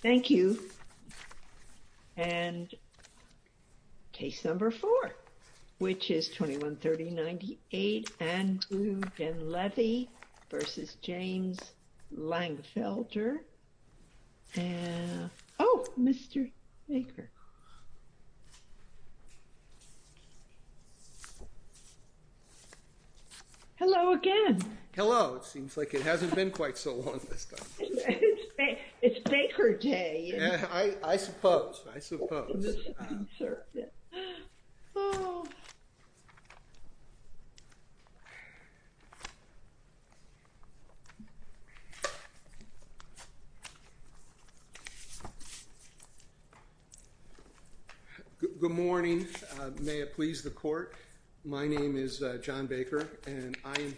Thank you. And case number four, which is 21-30-98, Andrew Dunlevy v. James Langfelder. Oh, Mr. Baker. Hello again. Hello. It seems like it hasn't been quite so long this time. It's Baker Day. I suppose. I suppose. I'm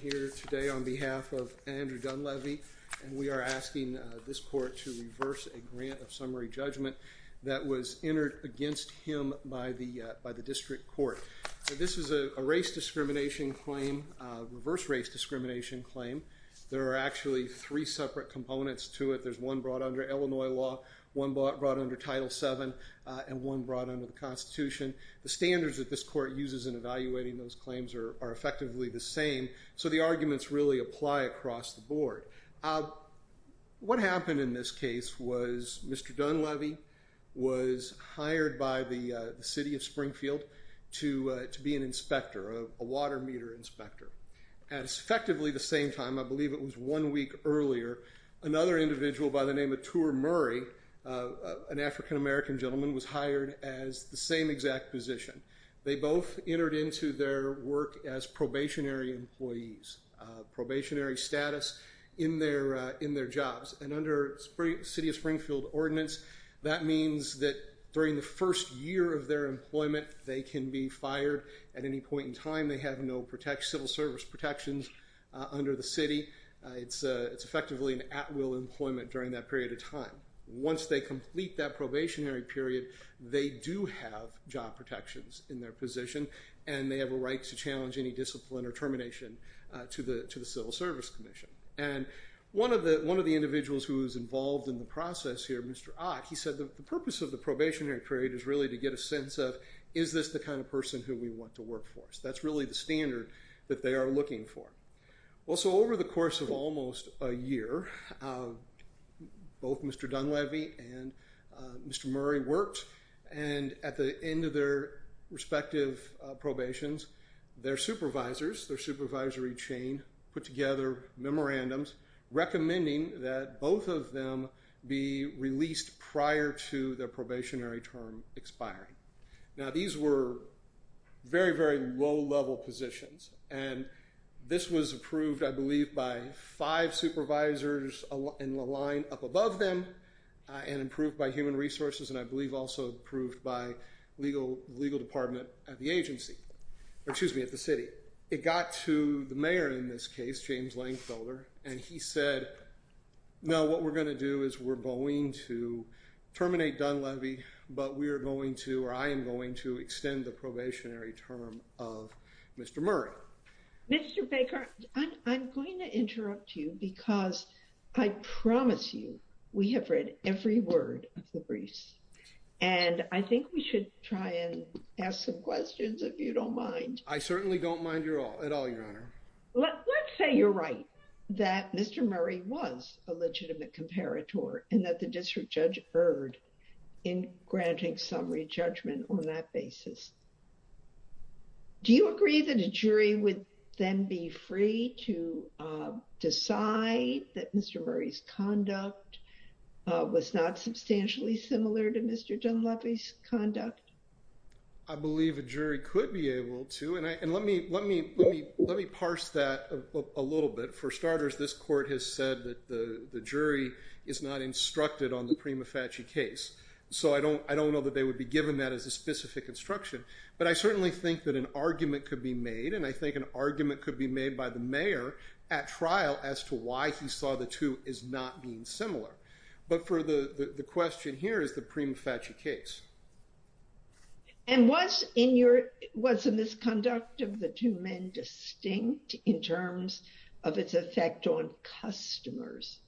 here today on behalf of Andrew Dunlevy, and we are asking this court to reverse a grant of summary judgment that was entered against him by the district court. This is a race discrimination claim, reverse race discrimination claim. There are actually three separate components to it. There's one brought under Illinois law, one brought under Title VII, and one brought under the Constitution. The standards that this court uses in evaluating those claims are effectively the same. So the arguments really apply across the board. What happened in this case was Mr. Dunlevy was hired by the city of Springfield to be an inspector, a water meter inspector. At effectively the same time, I believe it was one week earlier, another individual by the name of Tour Murray, an African-American gentleman, was hired as the same exact position. They both entered into their work as probationary employees, probationary status in their jobs. And under the city of Springfield ordinance, that means that during the first year of their employment, they can be fired at any point in time. They have no civil service protections under the city. It's effectively an at-will employment during that period of time. Once they complete that probationary period, they do have job protections in their position, and they have a right to challenge any discipline or termination to the Civil Service Commission. One of the individuals who was involved in the process here, Mr. Ott, he said the purpose of the probationary period is really to get a sense of, is this the kind of person who we want to work for? That's really the standard that they are looking for. Well, so over the course of almost a year, both Mr. Dunleavy and Mr. Murray worked, and at the end of their respective probations, their supervisors, their supervisory chain, put together memorandums recommending that both of them be released prior to their probationary term expiring. Now, these were very, very low-level positions, and this was approved, I believe, by five supervisors in the line up above them, and approved by Human Resources, and I believe also approved by the legal department at the agency, or excuse me, at the city. It got to the mayor in this case, James Langfelder, and he said, no, what we're going to do is we're going to terminate Dunleavy, but we are going to, or I am going to, extend the probationary term of Mr. Murray. Mr. Baker, I'm going to interrupt you because I promise you we have read every word of the briefs, and I think we should try and ask some questions if you don't mind. I certainly don't mind at all, Your Honor. Let's say you're right, that Mr. Murray was a legitimate comparator, and that the district judge erred in granting summary judgment on that basis. Do you agree that a jury would then be free to decide that Mr. Murray's conduct was not substantially similar to Mr. Dunleavy's conduct? I believe a jury could be able to, and let me parse that a little bit. For starters, this court has said that the jury is not instructed on the Prima Facie case, so I don't know that they would be given that as a specific instruction. But I certainly think that an argument could be made, and I think an argument could be made by the mayor at trial as to why he saw the two as not being similar. But the question here is the Prima Facie case. And was the misconduct of the two men distinct in terms of its effect on customers?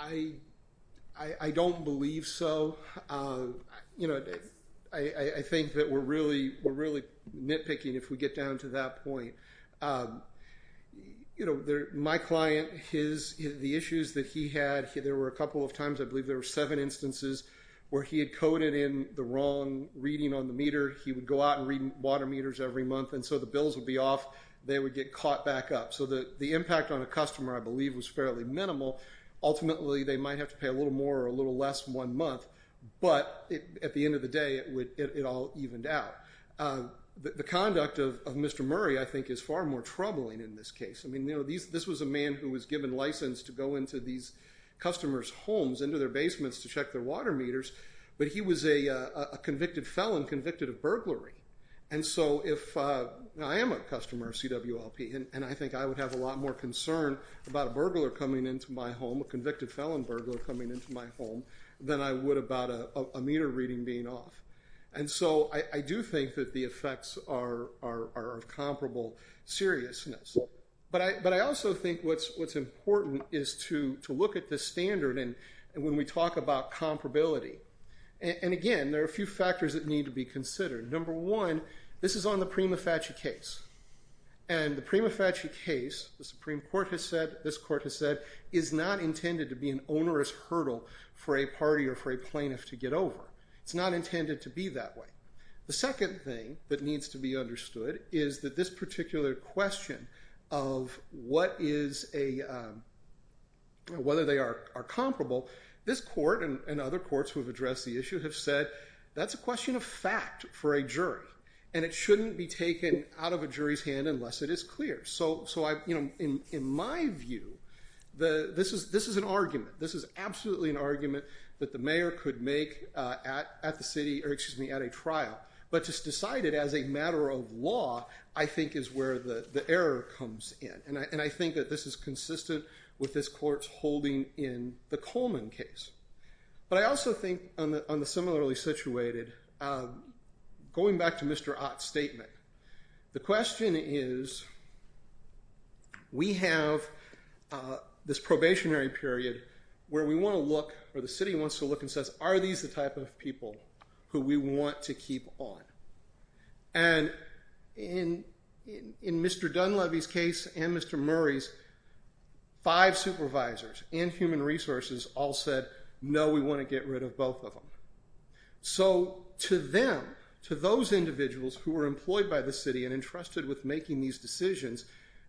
I don't believe so. You know, I think that we're really nitpicking if we get down to that point. You know, my client, the issues that he had, there were a couple of times, I believe there were seven instances where he had coded in the wrong reading on the meter. He would go out and read water meters every month, and so the bills would be off, they would get caught back up. So the impact on a customer, I believe, was fairly minimal. Ultimately, they might have to pay a little more or a little less one month, but at the end of the day, it all evened out. The conduct of Mr. Murray, I think, is far more troubling in this case. I mean, this was a man who was given license to go into these customers' homes, into their basements to check their water meters, but he was a convicted felon, convicted of burglary. And so if, I am a customer of CWLP, and I think I would have a lot more concern about a burglar coming into my home, a convicted felon burglar coming into my home, than I would about a meter reading being off. And so I do think that the effects are of comparable seriousness. But I also think what's important is to look at the standard when we talk about comparability. And again, there are a few factors that need to be considered. Number one, this is on the Prima Facie case. And the Prima Facie case, the Supreme Court has said, this court has said, is not intended to be an onerous hurdle for a party or for a plaintiff to get over. It's not intended to be that way. The second thing that needs to be understood is that this particular question of what is a, whether they are comparable, this court and other courts who have addressed the issue have said, that's a question of fact for a jury. And it shouldn't be taken out of a jury's hand unless it is clear. So in my view, this is an argument. This is absolutely an argument that the mayor could make at the city, or excuse me, at a trial. But to decide it as a matter of law, I think, is where the error comes in. And I think that this is consistent with this court's holding in the Coleman case. But I also think, on the similarly situated, going back to Mr. Ott's statement, the question is, we have this probationary period where we want to look, or the city wants to look and says, are these the type of people who we want to keep on? And in Mr. Dunleavy's case and Mr. Murray's, five supervisors and human resources all said, no, we want to get rid of both of them. So to them, to those individuals who were employed by the city and entrusted with making these decisions,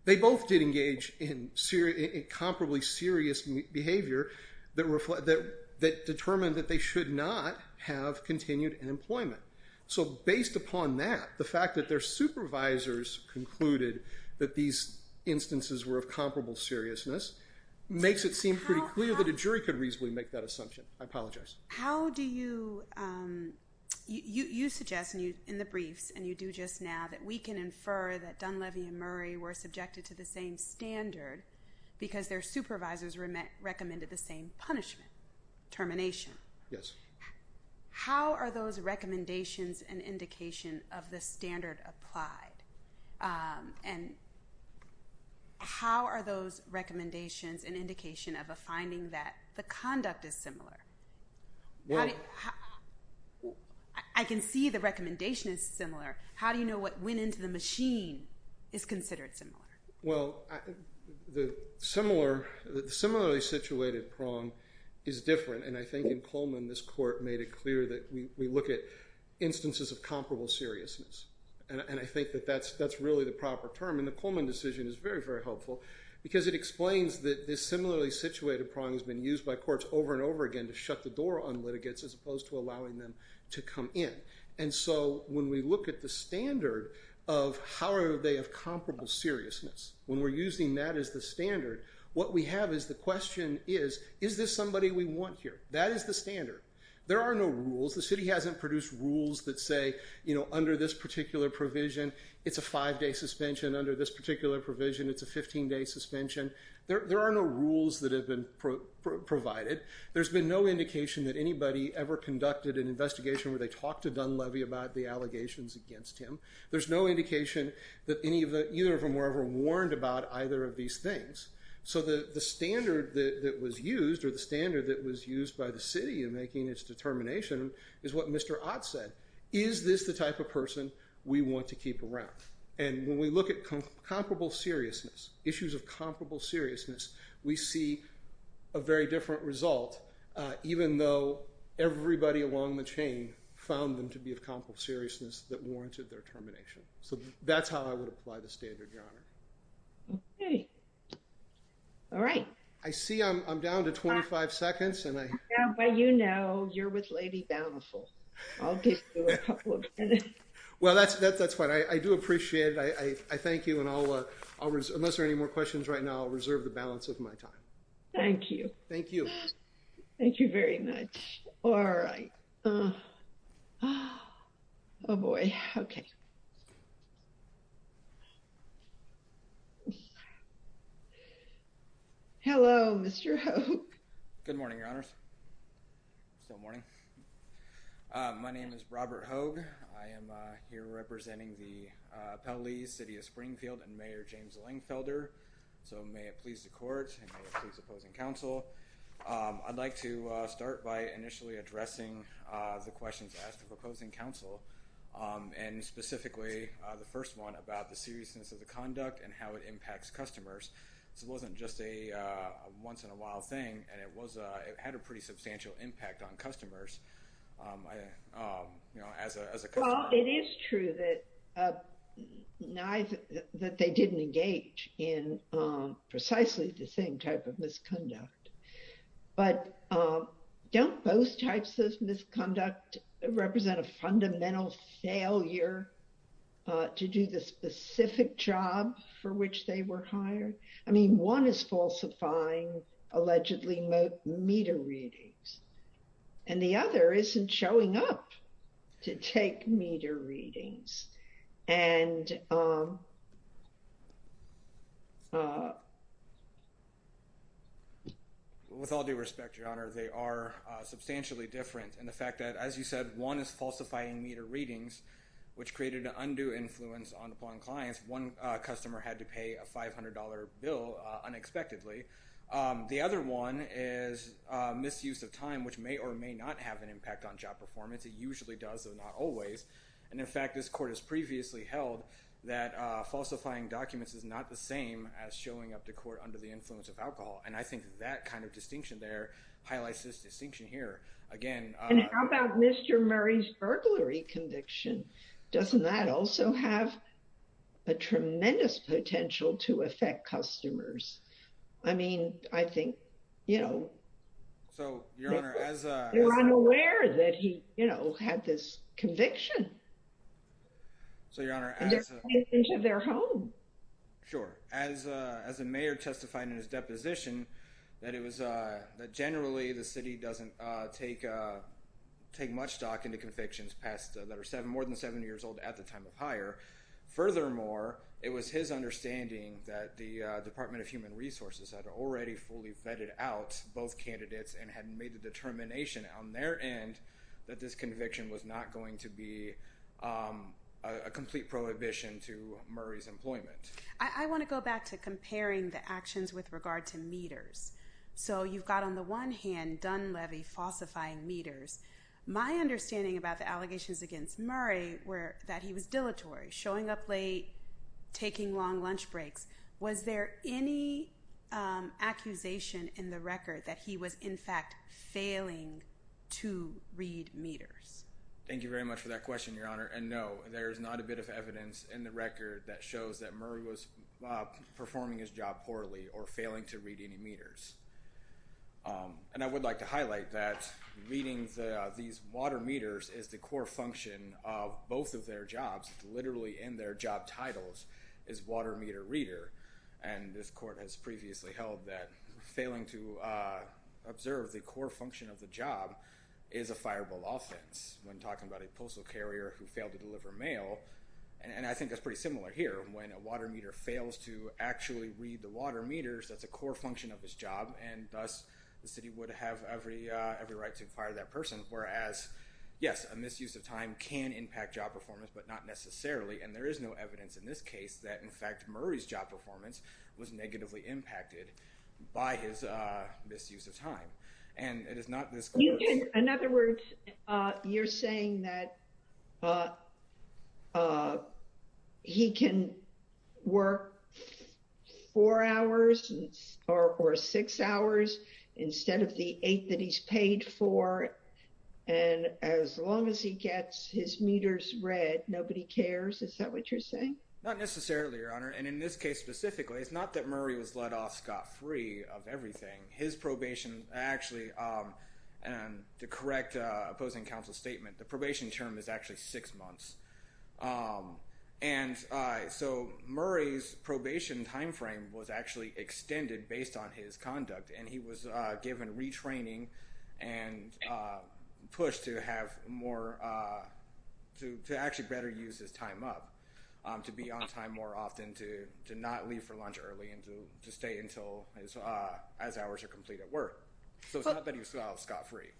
they both did engage in comparably serious behavior that determined that they should not have continued employment. So based upon that, the fact that their supervisors concluded that these instances were of comparable seriousness, makes it seem pretty clear that a jury could reasonably make that assumption. I apologize. How do you, you suggest in the briefs, and you do just now, that we can infer that Dunleavy and Murray were subjected to the same standard because their supervisors recommended the same punishment, termination. Yes. How are those recommendations an indication of the standard applied? And how are those recommendations an indication of a finding that the conduct is similar? I can see the recommendation is similar. How do you know what went into the machine is considered similar? Well, the similarly situated prong is different, and I think in Coleman, this court made it clear that we look at instances of comparable seriousness. And I think that that's really the proper term, and the Coleman decision is very, very helpful because it explains that this similarly situated prong has been used by courts over and over again to shut the door on litigants as opposed to allowing them to come in. And so when we look at the standard of how are they of comparable seriousness, when we're using that as the standard, what we have is the question is, is this somebody we want here? That is the standard. There are no rules. The city hasn't produced rules that say, you know, under this particular provision, it's a five-day suspension. Under this particular provision, it's a 15-day suspension. There are no rules that have been provided. There's been no indication that anybody ever conducted an investigation where they talked to Dunleavy about the allegations against him. There's no indication that either of them were ever warned about either of these things. So the standard that was used or the standard that was used by the city in making its determination is what Mr. Ott said. Is this the type of person we want to keep around? And when we look at comparable seriousness, issues of comparable seriousness, we see a very different result, even though everybody along the chain found them to be of comparable seriousness that warranted their termination. So that's how I would apply the standard, Your Honor. Okay. All right. I see I'm down to 25 seconds. Well, you know, you're with Lady Bountiful. I'll give you a couple of minutes. Well, that's fine. I do appreciate it. I thank you. And unless there are any more questions right now, I'll reserve the balance of my time. Thank you. Thank you. Thank you very much. All right. Oh, boy. Okay. Hello, Mr. Hogue. Good morning, Your Honors. Still morning. My name is Robert Hogue. I am here representing the Pelleys, City of Springfield, and Mayor James Lengfelder. So may it please the court and may it please opposing counsel. I'd like to start by initially addressing the questions asked of opposing counsel, and specifically the first one about the seriousness of the conduct and how it impacts customers. This wasn't just a once-in-a-while thing, and it had a pretty substantial impact on customers. Well, it is true that they didn't engage in precisely the same type of misconduct. But don't both types of misconduct represent a fundamental failure to do the specific job for which they were hired? I mean, one is falsifying allegedly meter readings, and the other isn't showing up to take meter readings. With all due respect, Your Honor, they are substantially different. And the fact that, as you said, one is falsifying meter readings, which created an undue influence upon clients. One customer had to pay a $500 bill unexpectedly. The other one is misuse of time, which may or may not have an impact on job performance. It usually does, though not always. And in fact, this court has previously held that falsifying documents is not the same as showing up to court under the influence of alcohol. And I think that kind of distinction there highlights this distinction here. And how about Mr. Murray's burglary conviction? Doesn't that also have a tremendous potential to affect customers? I mean, I think, you know, they're unaware that he, you know, had this conviction. And they're taking it into their home. Sure. As the mayor testified in his deposition, that generally the city doesn't take much stock into convictions that are more than 70 years old at the time of hire. Furthermore, it was his understanding that the Department of Human Resources had already fully vetted out both candidates and had made the determination on their end that this conviction was not going to be a complete prohibition to Murray's employment. I want to go back to comparing the actions with regard to meters. So you've got on the one hand Dunleavy falsifying meters. My understanding about the allegations against Murray were that he was dilatory, showing up late, taking long lunch breaks. Was there any accusation in the record that he was in fact failing to read meters? Thank you very much for that question, Your Honor. And no, there is not a bit of evidence in the record that shows that Murray was performing his job poorly or failing to read any meters. And I would like to highlight that reading these water meters is the core function of both of their jobs, literally in their job titles, is water meter reader. And this court has previously held that failing to observe the core function of the job is a fireball offense. When talking about a postal carrier who failed to deliver mail, and I think that's pretty similar here. And when a water meter fails to actually read the water meters, that's a core function of his job. And thus the city would have every right to fire that person. Whereas, yes, a misuse of time can impact job performance, but not necessarily. And there is no evidence in this case that in fact Murray's job performance was negatively impacted by his misuse of time. In other words, you're saying that he can work four hours or six hours instead of the eight that he's paid for. And as long as he gets his meters read, nobody cares. Is that what you're saying? Not necessarily, Your Honor. And in this case specifically, it's not that Murray was let off scot-free of everything. His probation actually, and to correct opposing counsel's statement, the probation term is actually six months. And so Murray's probation time frame was actually extended based on his conduct. And he was given retraining and pushed to have more, to actually better use his time up. To be on time more often, to not leave for lunch early, and to stay until his hours are complete at work. So it's not that he was let off scot-free.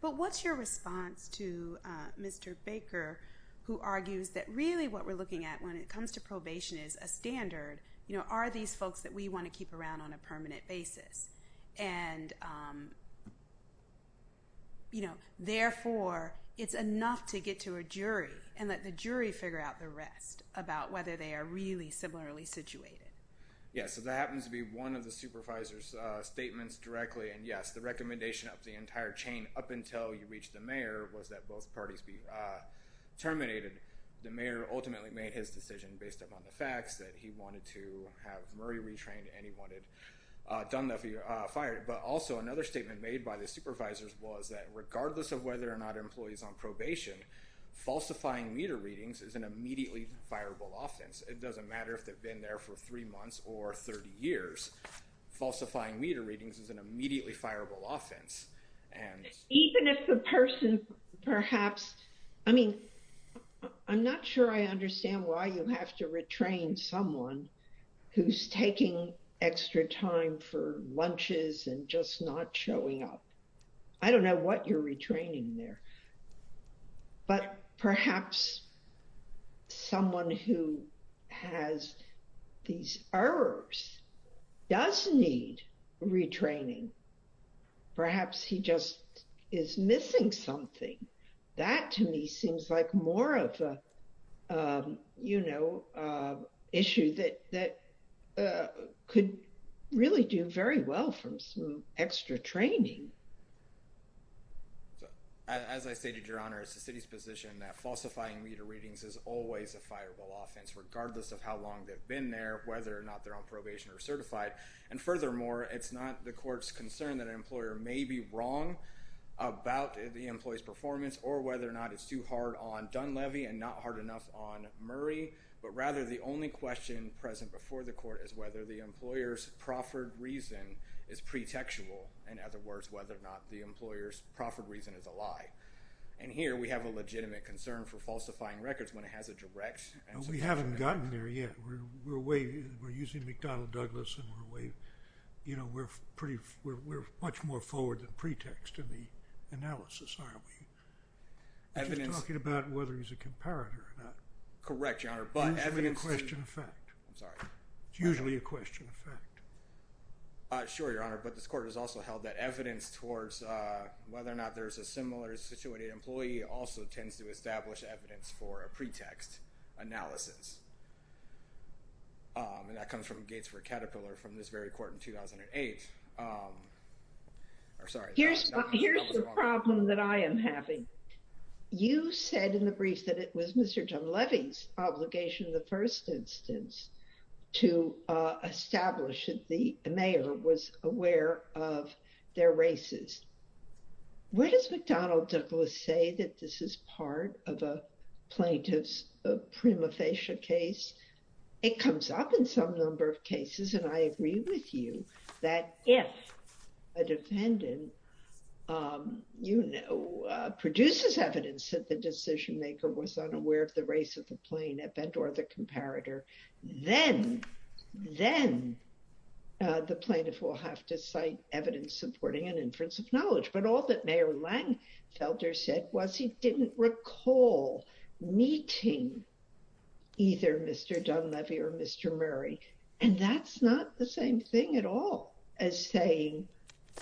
But what's your response to Mr. Baker, who argues that really what we're looking at when it comes to probation is a standard. Are these folks that we want to keep around on a permanent basis? And, you know, therefore, it's enough to get to a jury and let the jury figure out the rest about whether they are really similarly situated. Yeah, so that happens to be one of the supervisor's statements directly. And yes, the recommendation of the entire chain up until you reach the mayor was that both parties be terminated. The mayor ultimately made his decision based upon the facts that he wanted to have Murray retrained. And he wanted Dunleavy fired. But also another statement made by the supervisors was that regardless of whether or not employees are on probation, falsifying meter readings is an immediately fireable offense. It doesn't matter if they've been there for three months or 30 years. Falsifying meter readings is an immediately fireable offense. Even if the person perhaps, I mean, I'm not sure I understand why you have to retrain someone who's taking extra time for lunches and just not showing up. I don't know what you're retraining there. But perhaps someone who has these errors does need retraining. Perhaps he just is missing something. That to me seems like more of a, you know, issue that could really do very well from some extra training. As I stated, Your Honor, it's the city's position that falsifying meter readings is always a fireable offense, regardless of how long they've been there, whether or not they're on probation or certified. And furthermore, it's not the court's concern that an employer may be wrong about the employee's performance or whether or not it's too hard on Dunleavy and not hard enough on Murray. But rather the only question present before the Court is whether the employer's proffered reason is pretextual. In other words, whether or not the employer's proffered reason is a lie. And here we have a legitimate concern for falsifying records when it has a direct... We haven't gotten there yet. We're using McDonnell Douglas and we're way, you know, we're much more forward than pretext to the analysis, are we? Evidence... We're just talking about whether he's a comparator or not. Correct, Your Honor, but evidence... It's usually a question of fact. I'm sorry. It's usually a question of fact. Sure, Your Honor, but this Court has also held that evidence towards whether or not there's a similar situated employee also tends to establish evidence for a pretext analysis. And that comes from Gates v. Caterpillar from this very Court in 2008. Here's the problem that I am having. You said in the brief that it was Mr. John Levy's obligation in the first instance to establish that the mayor was aware of their races. Where does McDonnell Douglas say that this is part of a plaintiff's prima facie case? It comes up in some number of cases, and I agree with you that if a defendant, you know, produces evidence that the decision maker was unaware of the race of the plaintiff and or the comparator, then the plaintiff will have to cite evidence supporting an inference of knowledge. But all that Mayor Langenfelder said was he didn't recall meeting either Mr. Dunn-Levy or Mr. Murray, and that's not the same thing at all as saying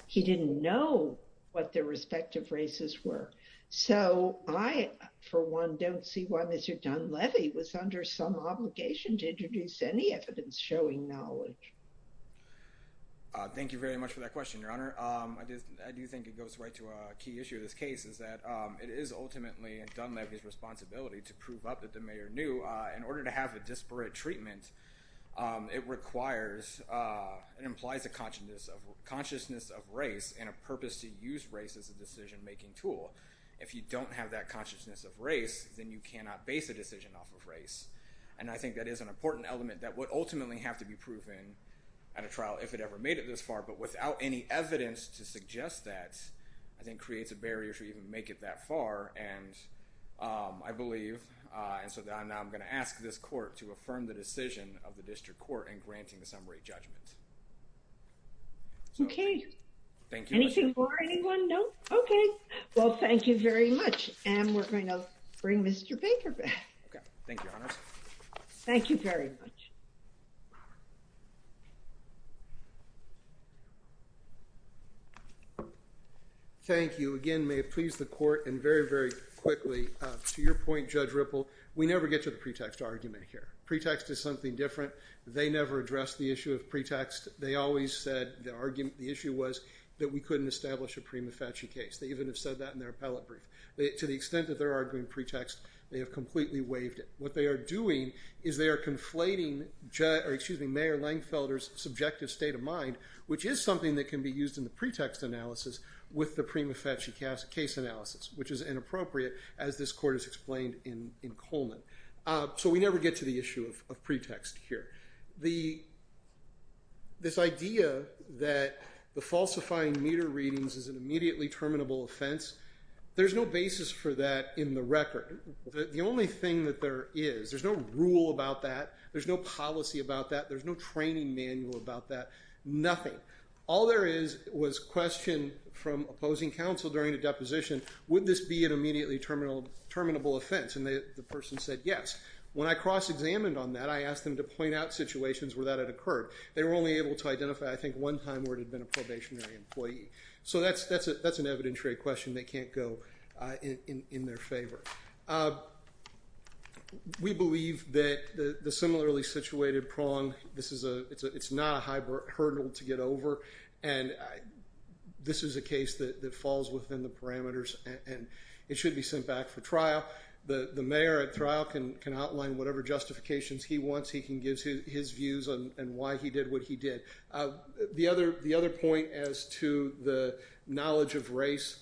he didn't know what their respective races were. So I, for one, don't see why Mr. Dunn-Levy was under some obligation to introduce any evidence showing knowledge. Thank you very much for that question, Your Honor. I do think it goes right to a key issue of this case is that it is ultimately Dunn-Levy's responsibility to prove up that the mayor knew. In order to have a disparate treatment, it requires and implies a consciousness of race and a purpose to use race as a decision-making tool. If you don't have that consciousness of race, then you cannot base a decision off of race. And I think that is an important element that would ultimately have to be proven at a trial if it ever made it this far. But without any evidence to suggest that, I think creates a barrier to even make it that far. And I believe, and so now I'm going to ask this court to affirm the decision of the district court in granting the summary judgment. Okay. Anything more, anyone? No? Okay. Well, thank you very much. And we're going to bring Mr. Baker back. Okay. Thank you, Your Honor. Thank you very much. Thank you. Again, may it please the court, and very, very quickly, to your point, Judge Ripple, we never get to the pretext argument here. Pretext is something different. They never addressed the issue of pretext. They always said the argument, the issue was that we couldn't establish a prima facie case. They even have said that in their appellate brief. To the extent that they're arguing pretext, they have completely waived it. What they are doing is they are conflating Mayor Langefelder's subjective state of mind, which is something that can be used in the pretext analysis with the prima facie case analysis, which is inappropriate as this court has explained in Coleman. So we never get to the issue of pretext here. This idea that the falsifying meter readings is an immediately terminable offense, there's no basis for that in the record. The only thing that there is, there's no rule about that, there's no policy about that, there's no training manual about that, nothing. All there is was question from opposing counsel during the deposition, would this be an immediately terminable offense? And the person said yes. When I cross-examined on that, I asked them to point out situations where that had occurred. They were only able to identify, I think, one time where it had been a probationary employee. So that's an evidentiary question that can't go in their favor. We believe that the similarly situated prong, it's not a hurdle to get over, and this is a case that falls within the parameters and it should be sent back for trial. The mayor at trial can outline whatever justifications he wants, he can give his views on why he did what he did. The other point as to the knowledge of race,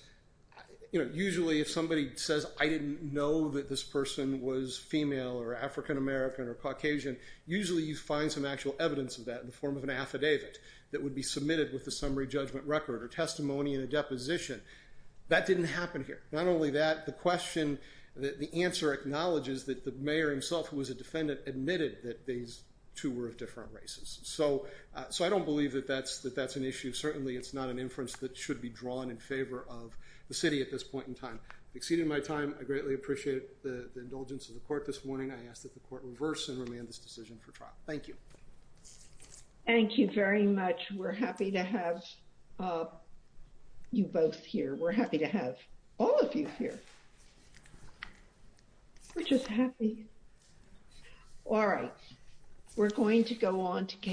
usually if somebody says I didn't know that this person was female or African American or Caucasian, usually you find some actual evidence of that in the form of an affidavit that would be submitted with a summary judgment record or testimony in a deposition. That didn't happen here. Not only that, the question, the answer acknowledges that the mayor himself, who was a defendant, admitted that these two were of different races. So I don't believe that that's an issue. Certainly it's not an inference that should be drawn in favor of the city at this point in time. Exceeding my time, I greatly appreciate the indulgence of the court this morning. I ask that the court reverse and remand this decision for trial. Thank you. Thank you very much. We're happy to have you both here. We're happy to have all of you here. We're just happy. All right. We're going to go on.